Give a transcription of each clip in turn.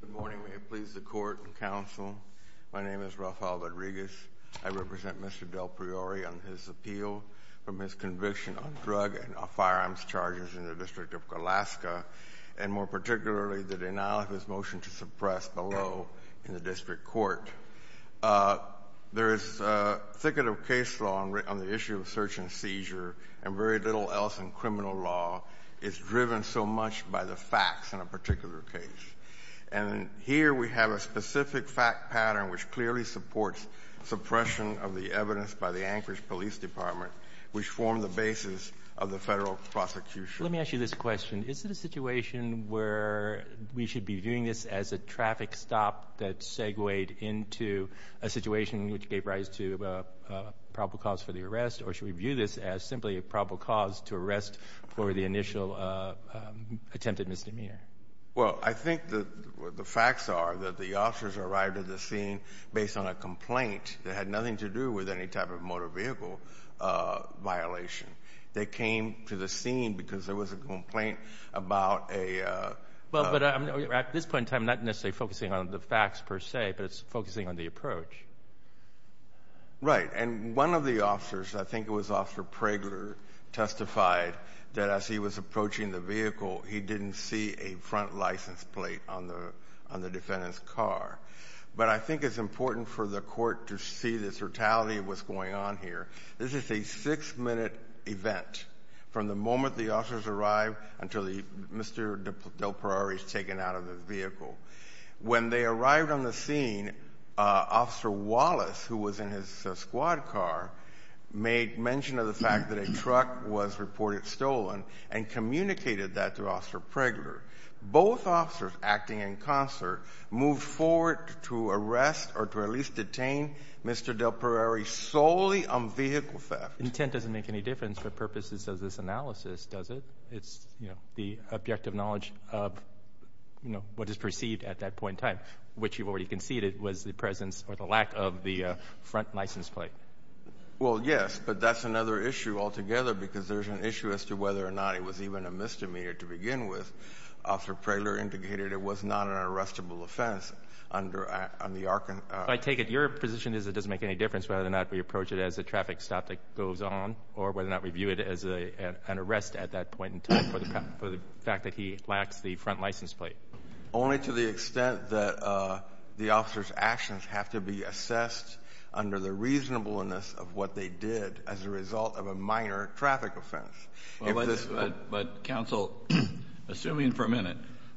Good morning. May it please the court and counsel, my name is Rafael Rodriguez. I represent Mr. Delpriore on his appeal for misconviction on drug and firearms charges in the District of Alaska, and more particularly the denial of his motion to suppress below in the District Court. There is a thicket of case law on the issue of search and seizure, and very little else in criminal law is driven so much by the facts in a particular case. And here we have a specific fact pattern which clearly supports suppression of the evidence by the Anchorage Police Department, which formed the basis of the Federal prosecution. Let me ask you this question. Is it a situation where we should be viewing this as a traffic stop that segued into a situation which gave rise to a probable cause for the arrest, or should we view this as simply a probable cause to arrest for the initial attempted misdemeanor? Well, I think the facts are that the officers arrived at the scene based on a complaint that had nothing to do with any type of motor vehicle violation. They came to the scene because there was a complaint about a— Well, but at this point in time, I'm not necessarily focusing on the facts per se, but it's focusing on the approach. Right. And one of the officers, I think it was Officer Prager, testified that as he was approaching the vehicle, he didn't see a front license plate on the defendant's car. But I think it's important for the court to see this brutality of what's going on here. This is a six-minute event from the moment the officers arrived until Mr. Del Perari is taken out of the vehicle. When they arrived on the scene, Officer Wallace, who was in his squad car, made mention of the fact that a truck was reported stolen and communicated that to Officer Prager. Both officers, acting in concert, moved forward to arrest or to at least detain Mr. Del Perari solely on vehicle theft. Intent doesn't make any difference for purposes of this analysis, does it? It's, you know, the objective knowledge of, you know, what is perceived at that point in time, which you've already conceded was the presence or the lack of the front license plate. Well, yes, but that's another issue altogether because there's an issue as to whether or not it was even a misdemeanor to begin with. Officer Prager indicated it was not an arrestable offense under the— I take it your position is it doesn't make any difference whether or not we approach it as a traffic stop that goes on or whether or not we view it as an arrest at that point in time for the fact that he lacks the front license plate. Only to the extent that the officer's actions have to be assessed under the reasonableness of what they did as a result of a minor traffic offense. But, Counsel, assuming for a minute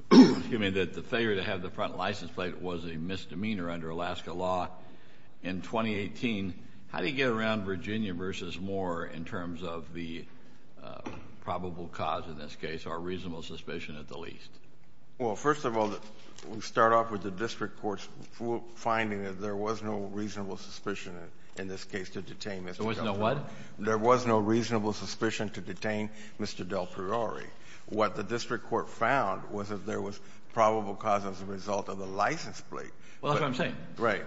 that the failure to have the front license plate was a misdemeanor under Alaska law in 2018, how do you get around Virginia versus Moore in terms of the probable cause in this case or reasonable suspicion at the least? Well, first of all, we start off with the district court's finding that there was no reasonable suspicion in this case to detain Mr. Del Priore. There was no what? There was no reasonable suspicion to detain Mr. Del Priore. What the district court found was that there was probable cause as a result of the license plate. Well, that's what I'm saying. Right.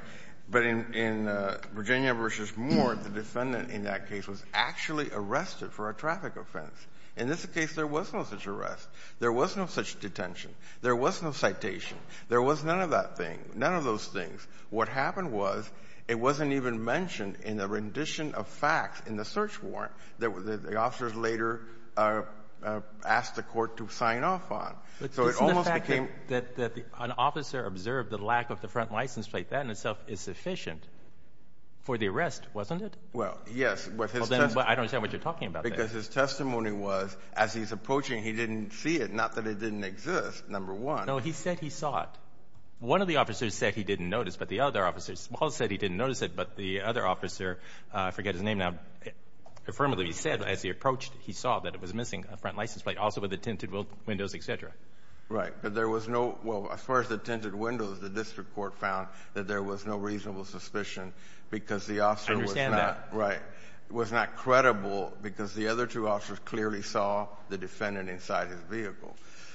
But in Virginia versus Moore, the defendant in that case was actually arrested for a traffic offense. In this case, there was no such arrest. There was no such detention. There was no citation. There was none of that thing, none of those things. What happened was it wasn't even mentioned in the rendition of facts in the search warrant that the officers later asked the court to sign off on. Isn't the fact that an officer observed the lack of the front license plate, that in itself is sufficient for the arrest, wasn't it? Well, yes. I don't understand what you're talking about there. Because his testimony was as he's approaching, he didn't see it, not that it didn't exist, number one. No, he said he saw it. One of the officers said he didn't notice, but the other officer, Smalls said he didn't notice it, but the other officer, I forget his name now, affirmatively said as he approached, he saw that it was missing a front license plate, also with the tinted windows, et cetera. Right. But there was no, well, as far as the tinted windows, the district court found that there was no reasonable suspicion because the officer was not. I understand that. Right. It was not credible because the other two officers clearly saw the defendant inside his vehicle.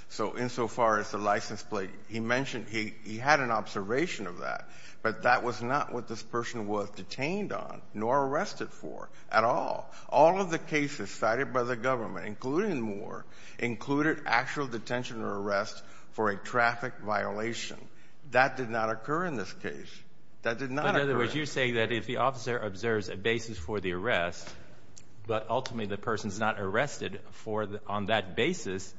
So insofar as the license plate, he mentioned he had an observation of that, but that was not what this person was detained on nor arrested for at all. All of the cases cited by the government, including Moore, included actual detention or arrest for a traffic violation. That did not occur in this case. That did not occur. But in other words, you're saying that if the officer observes a basis for the arrest, but ultimately the person's not arrested on that basis,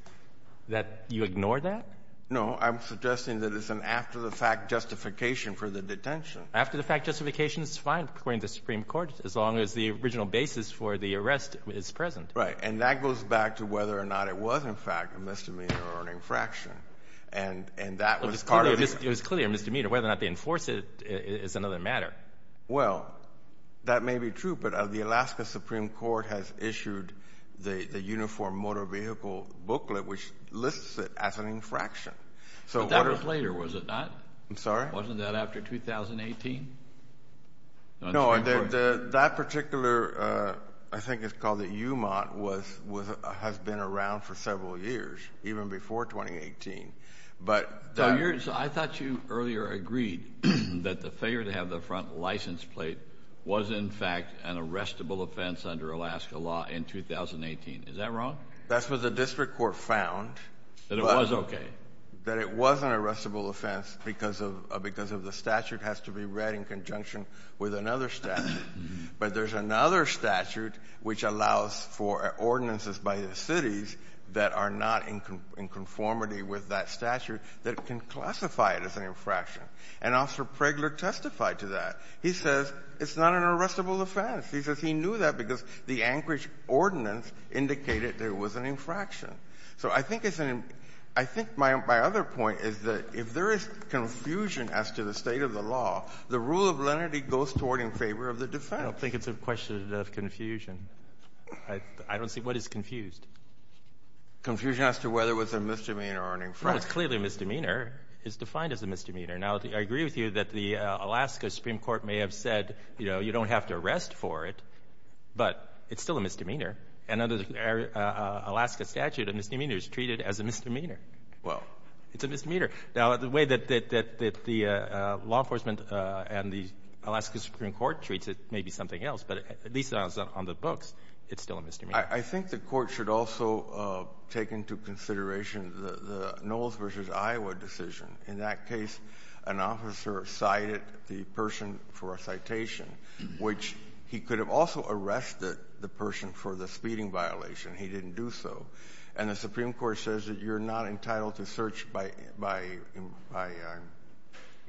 that you ignore that? No. I'm suggesting that it's an after-the-fact justification for the detention. After-the-fact justification is fine, according to the Supreme Court, as long as the original basis for the arrest is present. And that goes back to whether or not it was, in fact, a misdemeanor or an infraction. It was clearly a misdemeanor. Whether or not they enforce it is another matter. Well, that may be true, but the Alaska Supreme Court has issued the Uniform Motor Vehicle Booklet, which lists it as an infraction. But that was later, was it not? I'm sorry? Wasn't that after 2018? No, that particular, I think it's called the UMOT, has been around for several years, even before 2018. So I thought you earlier agreed that the failure to have the front license plate was, in fact, an arrestable offense under Alaska law in 2018. Is that wrong? That's what the district court found. That it was okay? That it was an arrestable offense because of the statute has to be read in conjunction with another statute. But there's another statute which allows for ordinances by the cities that are not in conformity with that statute that can classify it as an infraction. And Officer Pregler testified to that. He says it's not an arrestable offense. He says he knew that because the Anchorage ordinance indicated there was an infraction. So I think it's an — I think my other point is that if there is confusion as to the state of the law, the rule of lenity goes toward in favor of the defendant. I don't think it's a question of confusion. I don't see — what is confused? Confusion as to whether it was a misdemeanor or an infraction. No, it's clearly a misdemeanor. It's defined as a misdemeanor. Now, I agree with you that the Alaska Supreme Court may have said, you know, you don't have to arrest for it, but it's still a misdemeanor. And under the Alaska statute, a misdemeanor is treated as a misdemeanor. It's a misdemeanor. Now, the way that the law enforcement and the Alaska Supreme Court treats it may be something else, but at least on the books, it's still a misdemeanor. I think the Court should also take into consideration the Knowles v. Iowa decision. In that case, an officer cited the person for a citation, which he could have also arrested the person for the speeding violation. He didn't do so. And the Supreme Court says that you're not entitled to search by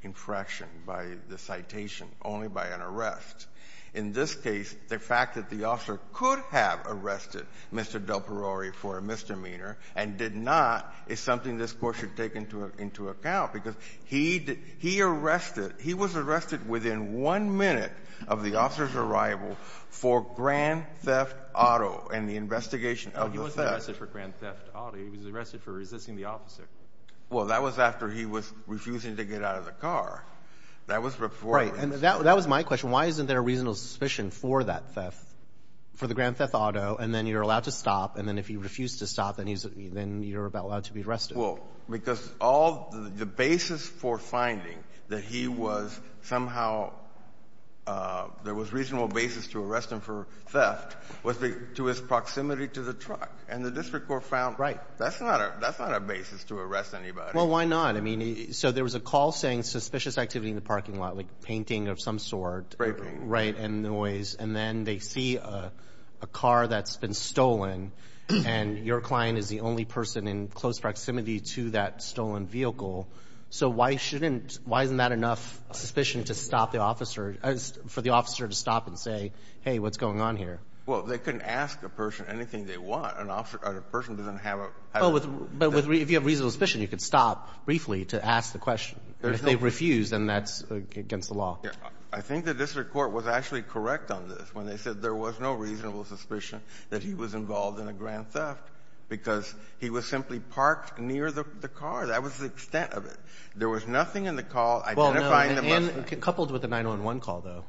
infraction, by the citation, only by an arrest. In this case, the fact that the officer could have arrested Mr. Del Perore for a misdemeanor and did not is something this Court should take into account, because he arrested within one minute of the officer's arrival for Grand Theft Auto and the investigation of the theft. He wasn't arrested for Grand Theft Auto. He was arrested for resisting the officer. Well, that was after he was refusing to get out of the car. That was before he was arrested. Right. And that was my question. Why isn't there a reasonable suspicion for that theft, for the Grand Theft Auto, and then you're allowed to stop, and then if you refuse to stop, then you're allowed to be arrested? Well, because all the basis for finding that he was somehow – there was reasonable basis to arrest him for theft was to his proximity to the truck. And the district court found that's not a basis to arrest anybody. Well, why not? I mean, so there was a call saying suspicious activity in the parking lot, like painting of some sort. Framing. Right, and noise. And then they see a car that's been stolen, and your client is the only person in close proximity to that stolen vehicle. So why shouldn't – why isn't that enough suspicion to stop the officer – for the officer to stop and say, hey, what's going on here? Well, they couldn't ask a person anything they want. An officer – a person doesn't have a – Oh, but if you have reasonable suspicion, you could stop briefly to ask the question. If they refuse, then that's against the law. I think the district court was actually correct on this when they said there was no suspicion that he was involved in a grand theft because he was simply parked near the car. That was the extent of it. There was nothing in the call identifying the Mustang. Well, no. And coupled with the 911 call, though.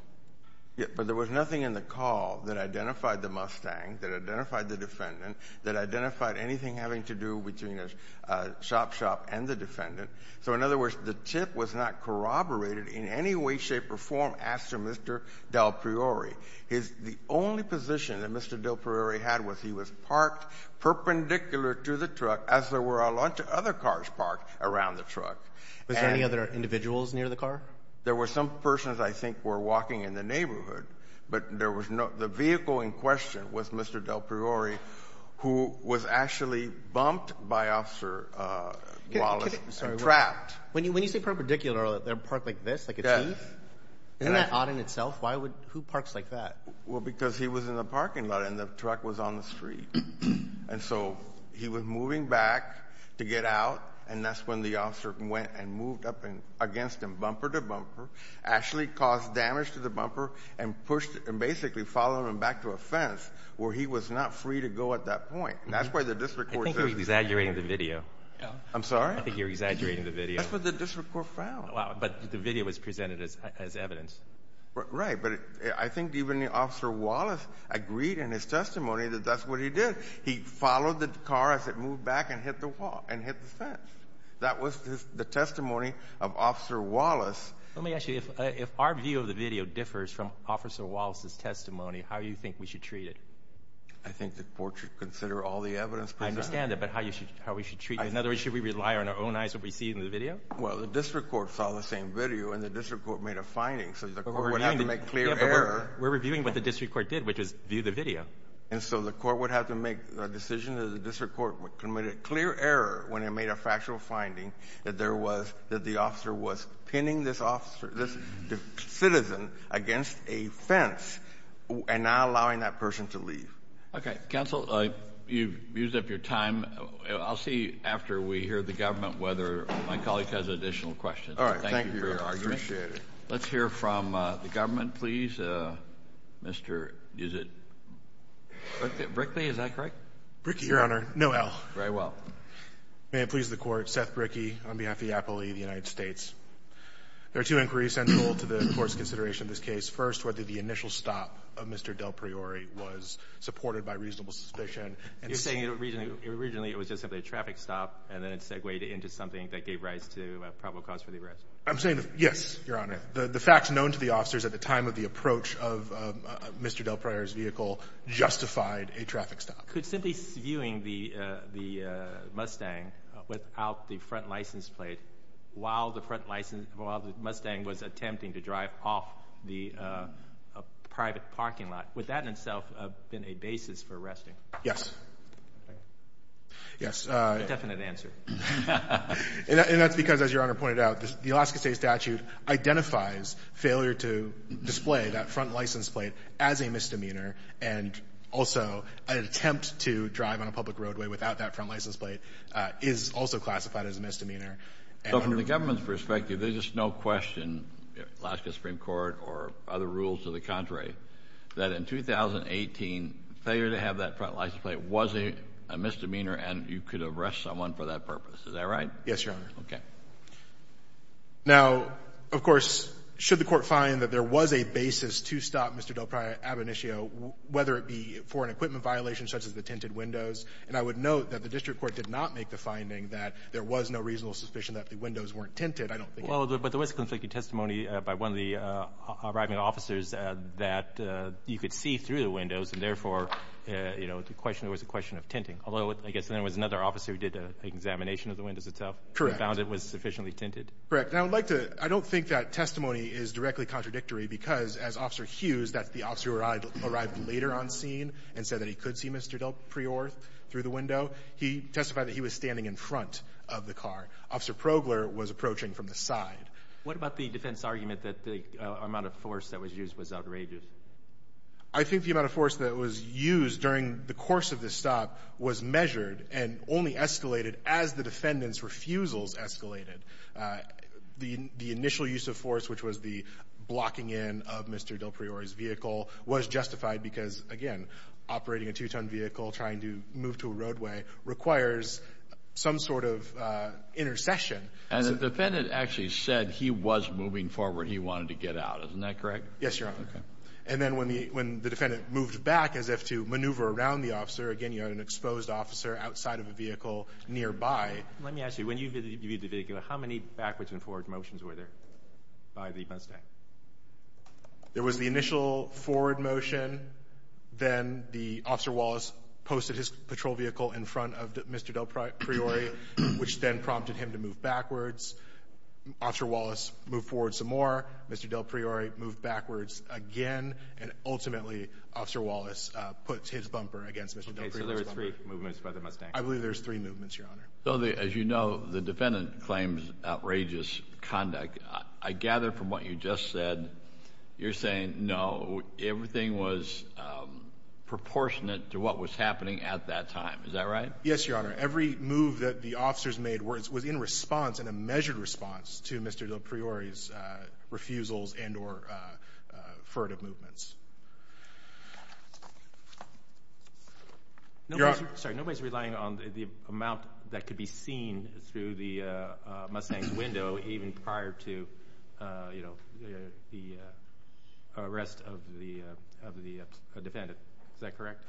Yeah, but there was nothing in the call that identified the Mustang, that identified the defendant, that identified anything having to do between the shop shop and the So in other words, the tip was not corroborated in any way, shape, or form as to Mr. Del Priori. His – the only position that Mr. Del Priori had was he was parked perpendicular to the truck, as there were a lot of other cars parked around the truck. Was there any other individuals near the car? There were some persons I think were walking in the neighborhood, but there was no – the vehicle in question was Mr. Del Priori, who was actually bumped by Officer Wallace and trapped. When you say perpendicular, they're parked like this, like a T? Yes. Isn't that odd in itself? Why would – who parks like that? Well, because he was in the parking lot and the truck was on the street. And so he was moving back to get out, and that's when the officer went and moved up against him bumper to bumper, actually caused damage to the bumper and pushed – and basically followed him back to a fence where he was not free to go at that point. And that's where the district court says – I think you're exaggerating the video. I'm sorry? I think you're exaggerating the video. That's what the district court found. Wow. But the video was presented as evidence. Right. But I think even Officer Wallace agreed in his testimony that that's what he did. He followed the car as it moved back and hit the fence. That was the testimony of Officer Wallace. Let me ask you, if our view of the video differs from Officer Wallace's testimony, how do you think we should treat it? I think the court should consider all the evidence presented. I understand that, but how we should treat it? In other words, should we rely on our own eyes what we see in the video? Well, the district court saw the same video, and the district court made a finding. So the court would have to make clear error. We're reviewing what the district court did, which is view the video. And so the court would have to make a decision that the district court committed clear error when it made a factual finding that there was – that the officer was pinning this citizen against a fence and not allowing that person to leave. Okay. Counsel, you've used up your time. I'll see after we hear the government whether my colleague has additional questions. Thank you. Thank you for your argument. I appreciate it. Let's hear from the government, please. Mr. – is it Brickley? Is that correct? Brickley, Your Honor. No L. Very well. May it please the Court. Seth Brickley on behalf of the Appellee of the United States. There are two inquiries central to the Court's consideration of this case. First, whether the initial stop of Mr. Del Priore was supported by reasonable suspicion. You're saying originally it was just simply a traffic stop and then it segued into something that gave rise to probable cause for the arrest? I'm saying – yes, Your Honor. The facts known to the officers at the time of the approach of Mr. Del Priore's vehicle justified a traffic stop. Could simply viewing the Mustang without the front license plate while the front license – while the Mustang was attempting to drive off the private parking lot, would that in itself have been a basis for arresting? Yes. Yes. A definite answer. And that's because, as Your Honor pointed out, the Alaska State statute identifies failure to display that front license plate as a misdemeanor and also an attempt to drive on a public roadway without that front license plate is also classified as a misdemeanor. So from the government's perspective, there's just no question, Alaska Supreme Court or other rules to the contrary, that in 2018, failure to have that front license plate was a misdemeanor and you could arrest someone for that purpose. Is that right? Yes, Your Honor. Okay. Now, of course, should the Court find that there was a basis to stop Mr. Del Priore ab initio, whether it be for an equipment violation such as the tinted windows? And I would note that the district court did not make the finding that there was no reasonable suspicion that the windows weren't tinted. I don't think – Well, but there was conflicting testimony by one of the arriving officers that you could see through the windows and therefore, you know, the question was a question of tinting. Although I guess there was another officer who did an examination of the windows itself. Correct. And found it was sufficiently tinted. Correct. And I would like to – I don't think that testimony is directly contradictory because as Officer Hughes, that's the officer who arrived later on scene and said that he could see Mr. Del Priore through the window, he testified that he was standing in front of the car. Officer Progler was approaching from the side. What about the defense argument that the amount of force that was used was outrageous? I think the amount of force that was used during the course of the stop was measured and only escalated as the defendant's refusals escalated. The initial use of force, which was the blocking in of Mr. Del Priore's vehicle, was justified because, again, operating a two-ton vehicle, trying to move to a roadway, requires some sort of intercession. And the defendant actually said he was moving forward. He wanted to get out. Isn't that correct? Yes, Your Honor. Okay. And then when the defendant moved back as if to maneuver around the officer, again, you had an exposed officer outside of a vehicle nearby. Let me ask you, when you viewed the vehicle, how many backwards and forward motions were there by the defense stand? There was the initial forward motion. Then Officer Wallace posted his patrol vehicle in front of Mr. Del Priore, which then prompted him to move backwards. Officer Wallace moved forward some more. Mr. Del Priore moved backwards again. And ultimately, Officer Wallace put his bumper against Mr. Del Priore's bumper. Okay. So there were three movements by the Mustang. I believe there were three movements, Your Honor. As you know, the defendant claims outrageous conduct. I gather from what you just said, you're saying, no, everything was proportionate to what was happening at that time. Is that right? Yes, Your Honor. Every move that the officers made was in response, in a measured response to Mr. Del Priore's refusals and or furtive movements. Your Honor. Sorry, nobody's relying on the amount that could be seen through the Mustang's window even prior to the arrest of the defendant. Is that correct?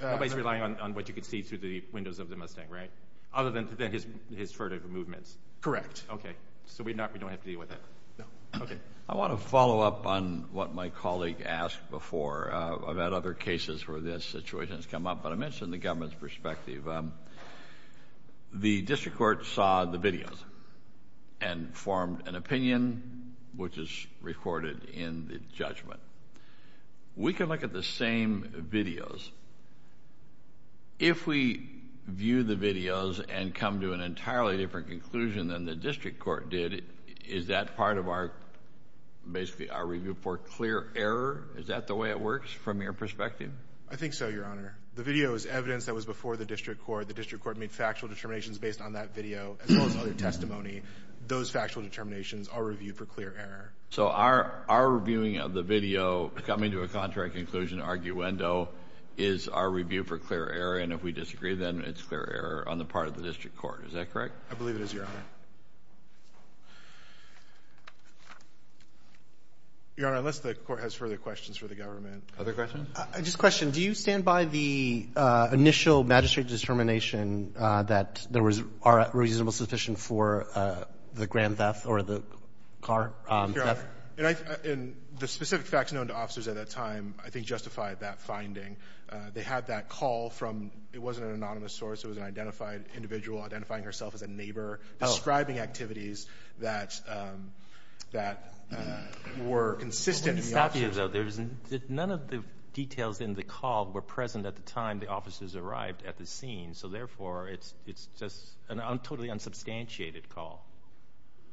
Nobody's relying on what you could see through the windows of the Mustang, right? Other than his furtive movements. Correct. Okay. So we don't have to deal with that? No. Okay. I want to follow up on what my colleague asked before. I've had other cases where this situation has come up, but I mentioned the government's perspective. The district court saw the videos and formed an opinion, which is recorded in the judgment. We can look at the same videos. If we view the videos and come to an entirely different conclusion than the district court did, is that part of our review for clear error? Is that the way it works from your perspective? I think so, Your Honor. The video is evidence that was before the district court. The district court made factual determinations based on that video as well as other testimony. Those factual determinations are reviewed for clear error. So our reviewing of the video coming to a contrary conclusion, arguendo, is our review for clear error, and if we disagree, then it's clear error on the part of the district court. Is that correct? I believe it is, Your Honor. Your Honor, unless the court has further questions for the government. Other questions? Just a question. Do you stand by the initial magistrate's determination that there was a reasonable suspicion for the grand theft or the car theft? And the specific facts known to officers at that time, I think, justified that finding. They had that call from, it wasn't an anonymous source. It was an identified individual identifying herself as a neighbor, describing activities that were consistent with the officers. None of the details in the call were present at the time the officers arrived at the scene. So, therefore, it's just a totally unsubstantiated call.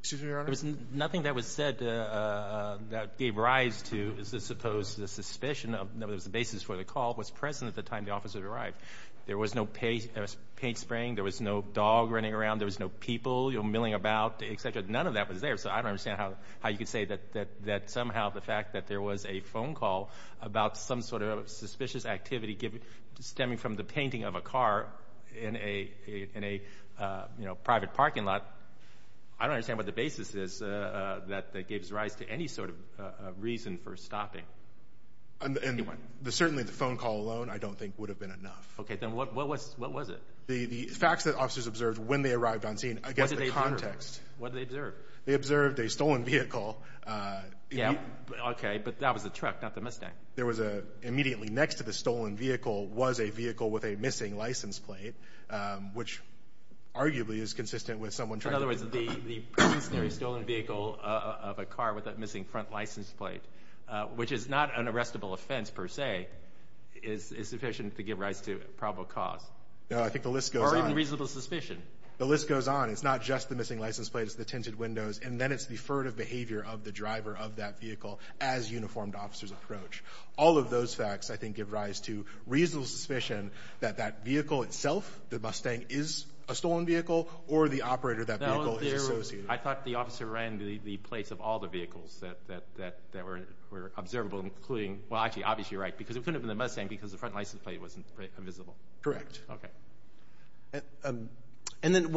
Excuse me, Your Honor? There was nothing that was said that gave rise to, I suppose, the suspicion that was the basis for the call was present at the time the officers arrived. There was no paint spraying. There was no dog running around. There was no people milling about, et cetera. None of that was there. So I don't understand how you could say that somehow the fact that there was a phone call about some sort of suspicious activity stemming from the painting of a car in a private parking lot, I don't understand what the basis is that gives rise to any sort of reason for stopping. Certainly the phone call alone, I don't think, would have been enough. Okay. Then what was it? The facts that officers observed when they arrived on scene against the context. What did they observe? They observed a stolen vehicle. Yeah. Okay. But that was a truck, not the Mustang. There was a immediately next to the stolen vehicle was a vehicle with a missing license plate, which arguably is consistent with someone trying to- In other words, the stationary stolen vehicle of a car with a missing front license plate, which is not an arrestable offense per se, is sufficient to give rise to probable cause. No. I think the list goes on. Or even reasonable suspicion. The list goes on. It's not just the missing license plate. It's the tinted windows. And then it's the furtive behavior of the driver of that vehicle as uniformed officers approach. All of those facts, I think, give rise to reasonable suspicion that that vehicle itself, the Mustang, is a stolen vehicle or the operator of that vehicle is associated. I thought the officer ran the plates of all the vehicles that were observable, including- Well, actually, obviously you're right because it couldn't have been the Mustang because the front license plate wasn't visible. Correct. Okay. And then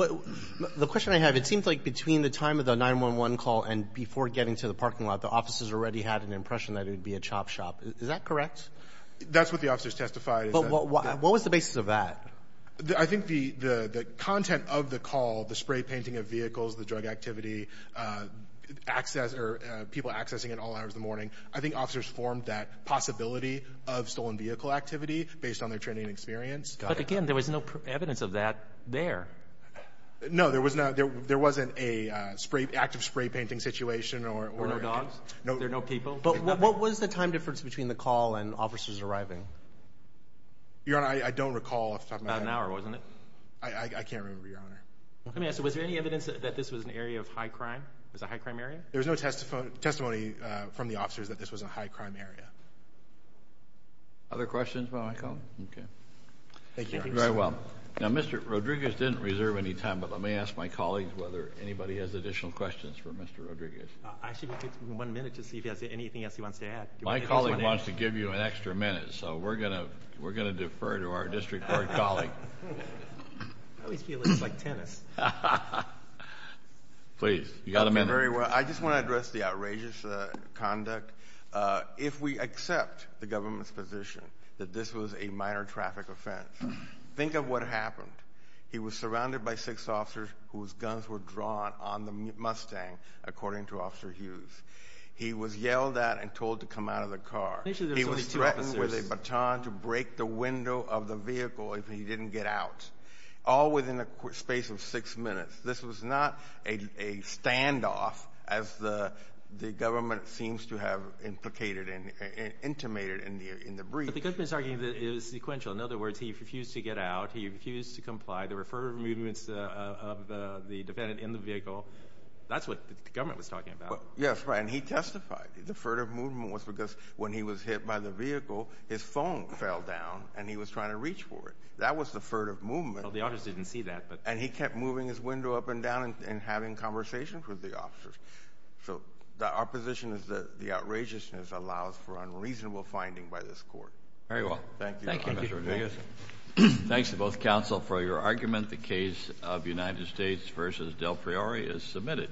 the question I have, it seems like between the time of the 911 call and before getting to the parking lot, the officers already had an impression that it would be a chop shop. Is that correct? That's what the officers testified. What was the basis of that? I think the content of the call, the spray painting of vehicles, the drug activity, people accessing it all hours of the morning, I think officers formed that possibility of stolen vehicle activity based on their training and experience. But again, there was no evidence of that there. No, there wasn't an active spray painting situation. Or no dogs? No. There were no people? But what was the time difference between the call and officers arriving? Your Honor, I don't recall off the top of my head. About an hour, wasn't it? I can't remember, Your Honor. Let me ask you, was there any evidence that this was an area of high crime? It was a high crime area? There was no testimony from the officers that this was a high crime area. Other questions about my call? Okay. Thank you, Your Honor. Very well. Now, Mr. Rodriguez didn't reserve any time, but let me ask my colleagues whether anybody has additional questions for Mr. Rodriguez. I should give him one minute to see if he has anything else he wants to add. My colleague wants to give you an extra minute, so we're going to defer to our district court colleague. I always feel it's like tennis. Please, you've got a minute. Thank you very much. I just want to address the outrageous conduct. If we accept the government's position that this was a minor traffic offense, think of what happened. He was surrounded by six officers whose guns were drawn on the Mustang, according to Officer Hughes. He was yelled at and told to come out of the car. He was threatened with a baton to break the window of the vehicle if he didn't get out, all within a space of six minutes. This was not a standoff, as the government seems to have implicated and intimated in the brief. But the government is arguing that it was sequential. In other words, he refused to get out. He refused to comply. There were further movements of the defendant in the vehicle. That's what the government was talking about. Yes, right, and he testified. The further movement was because when he was hit by the vehicle, his phone fell down, and he was trying to reach for it. That was the further movement. Well, the officers didn't see that. And he kept moving his window up and down and having conversations with the officers. So our position is that the outrageousness allows for unreasonable finding by this court. Very well. Thank you, Mr. Rodriguez. Thanks to both counsel for your argument. The case of United States v. Del Priori is submitted.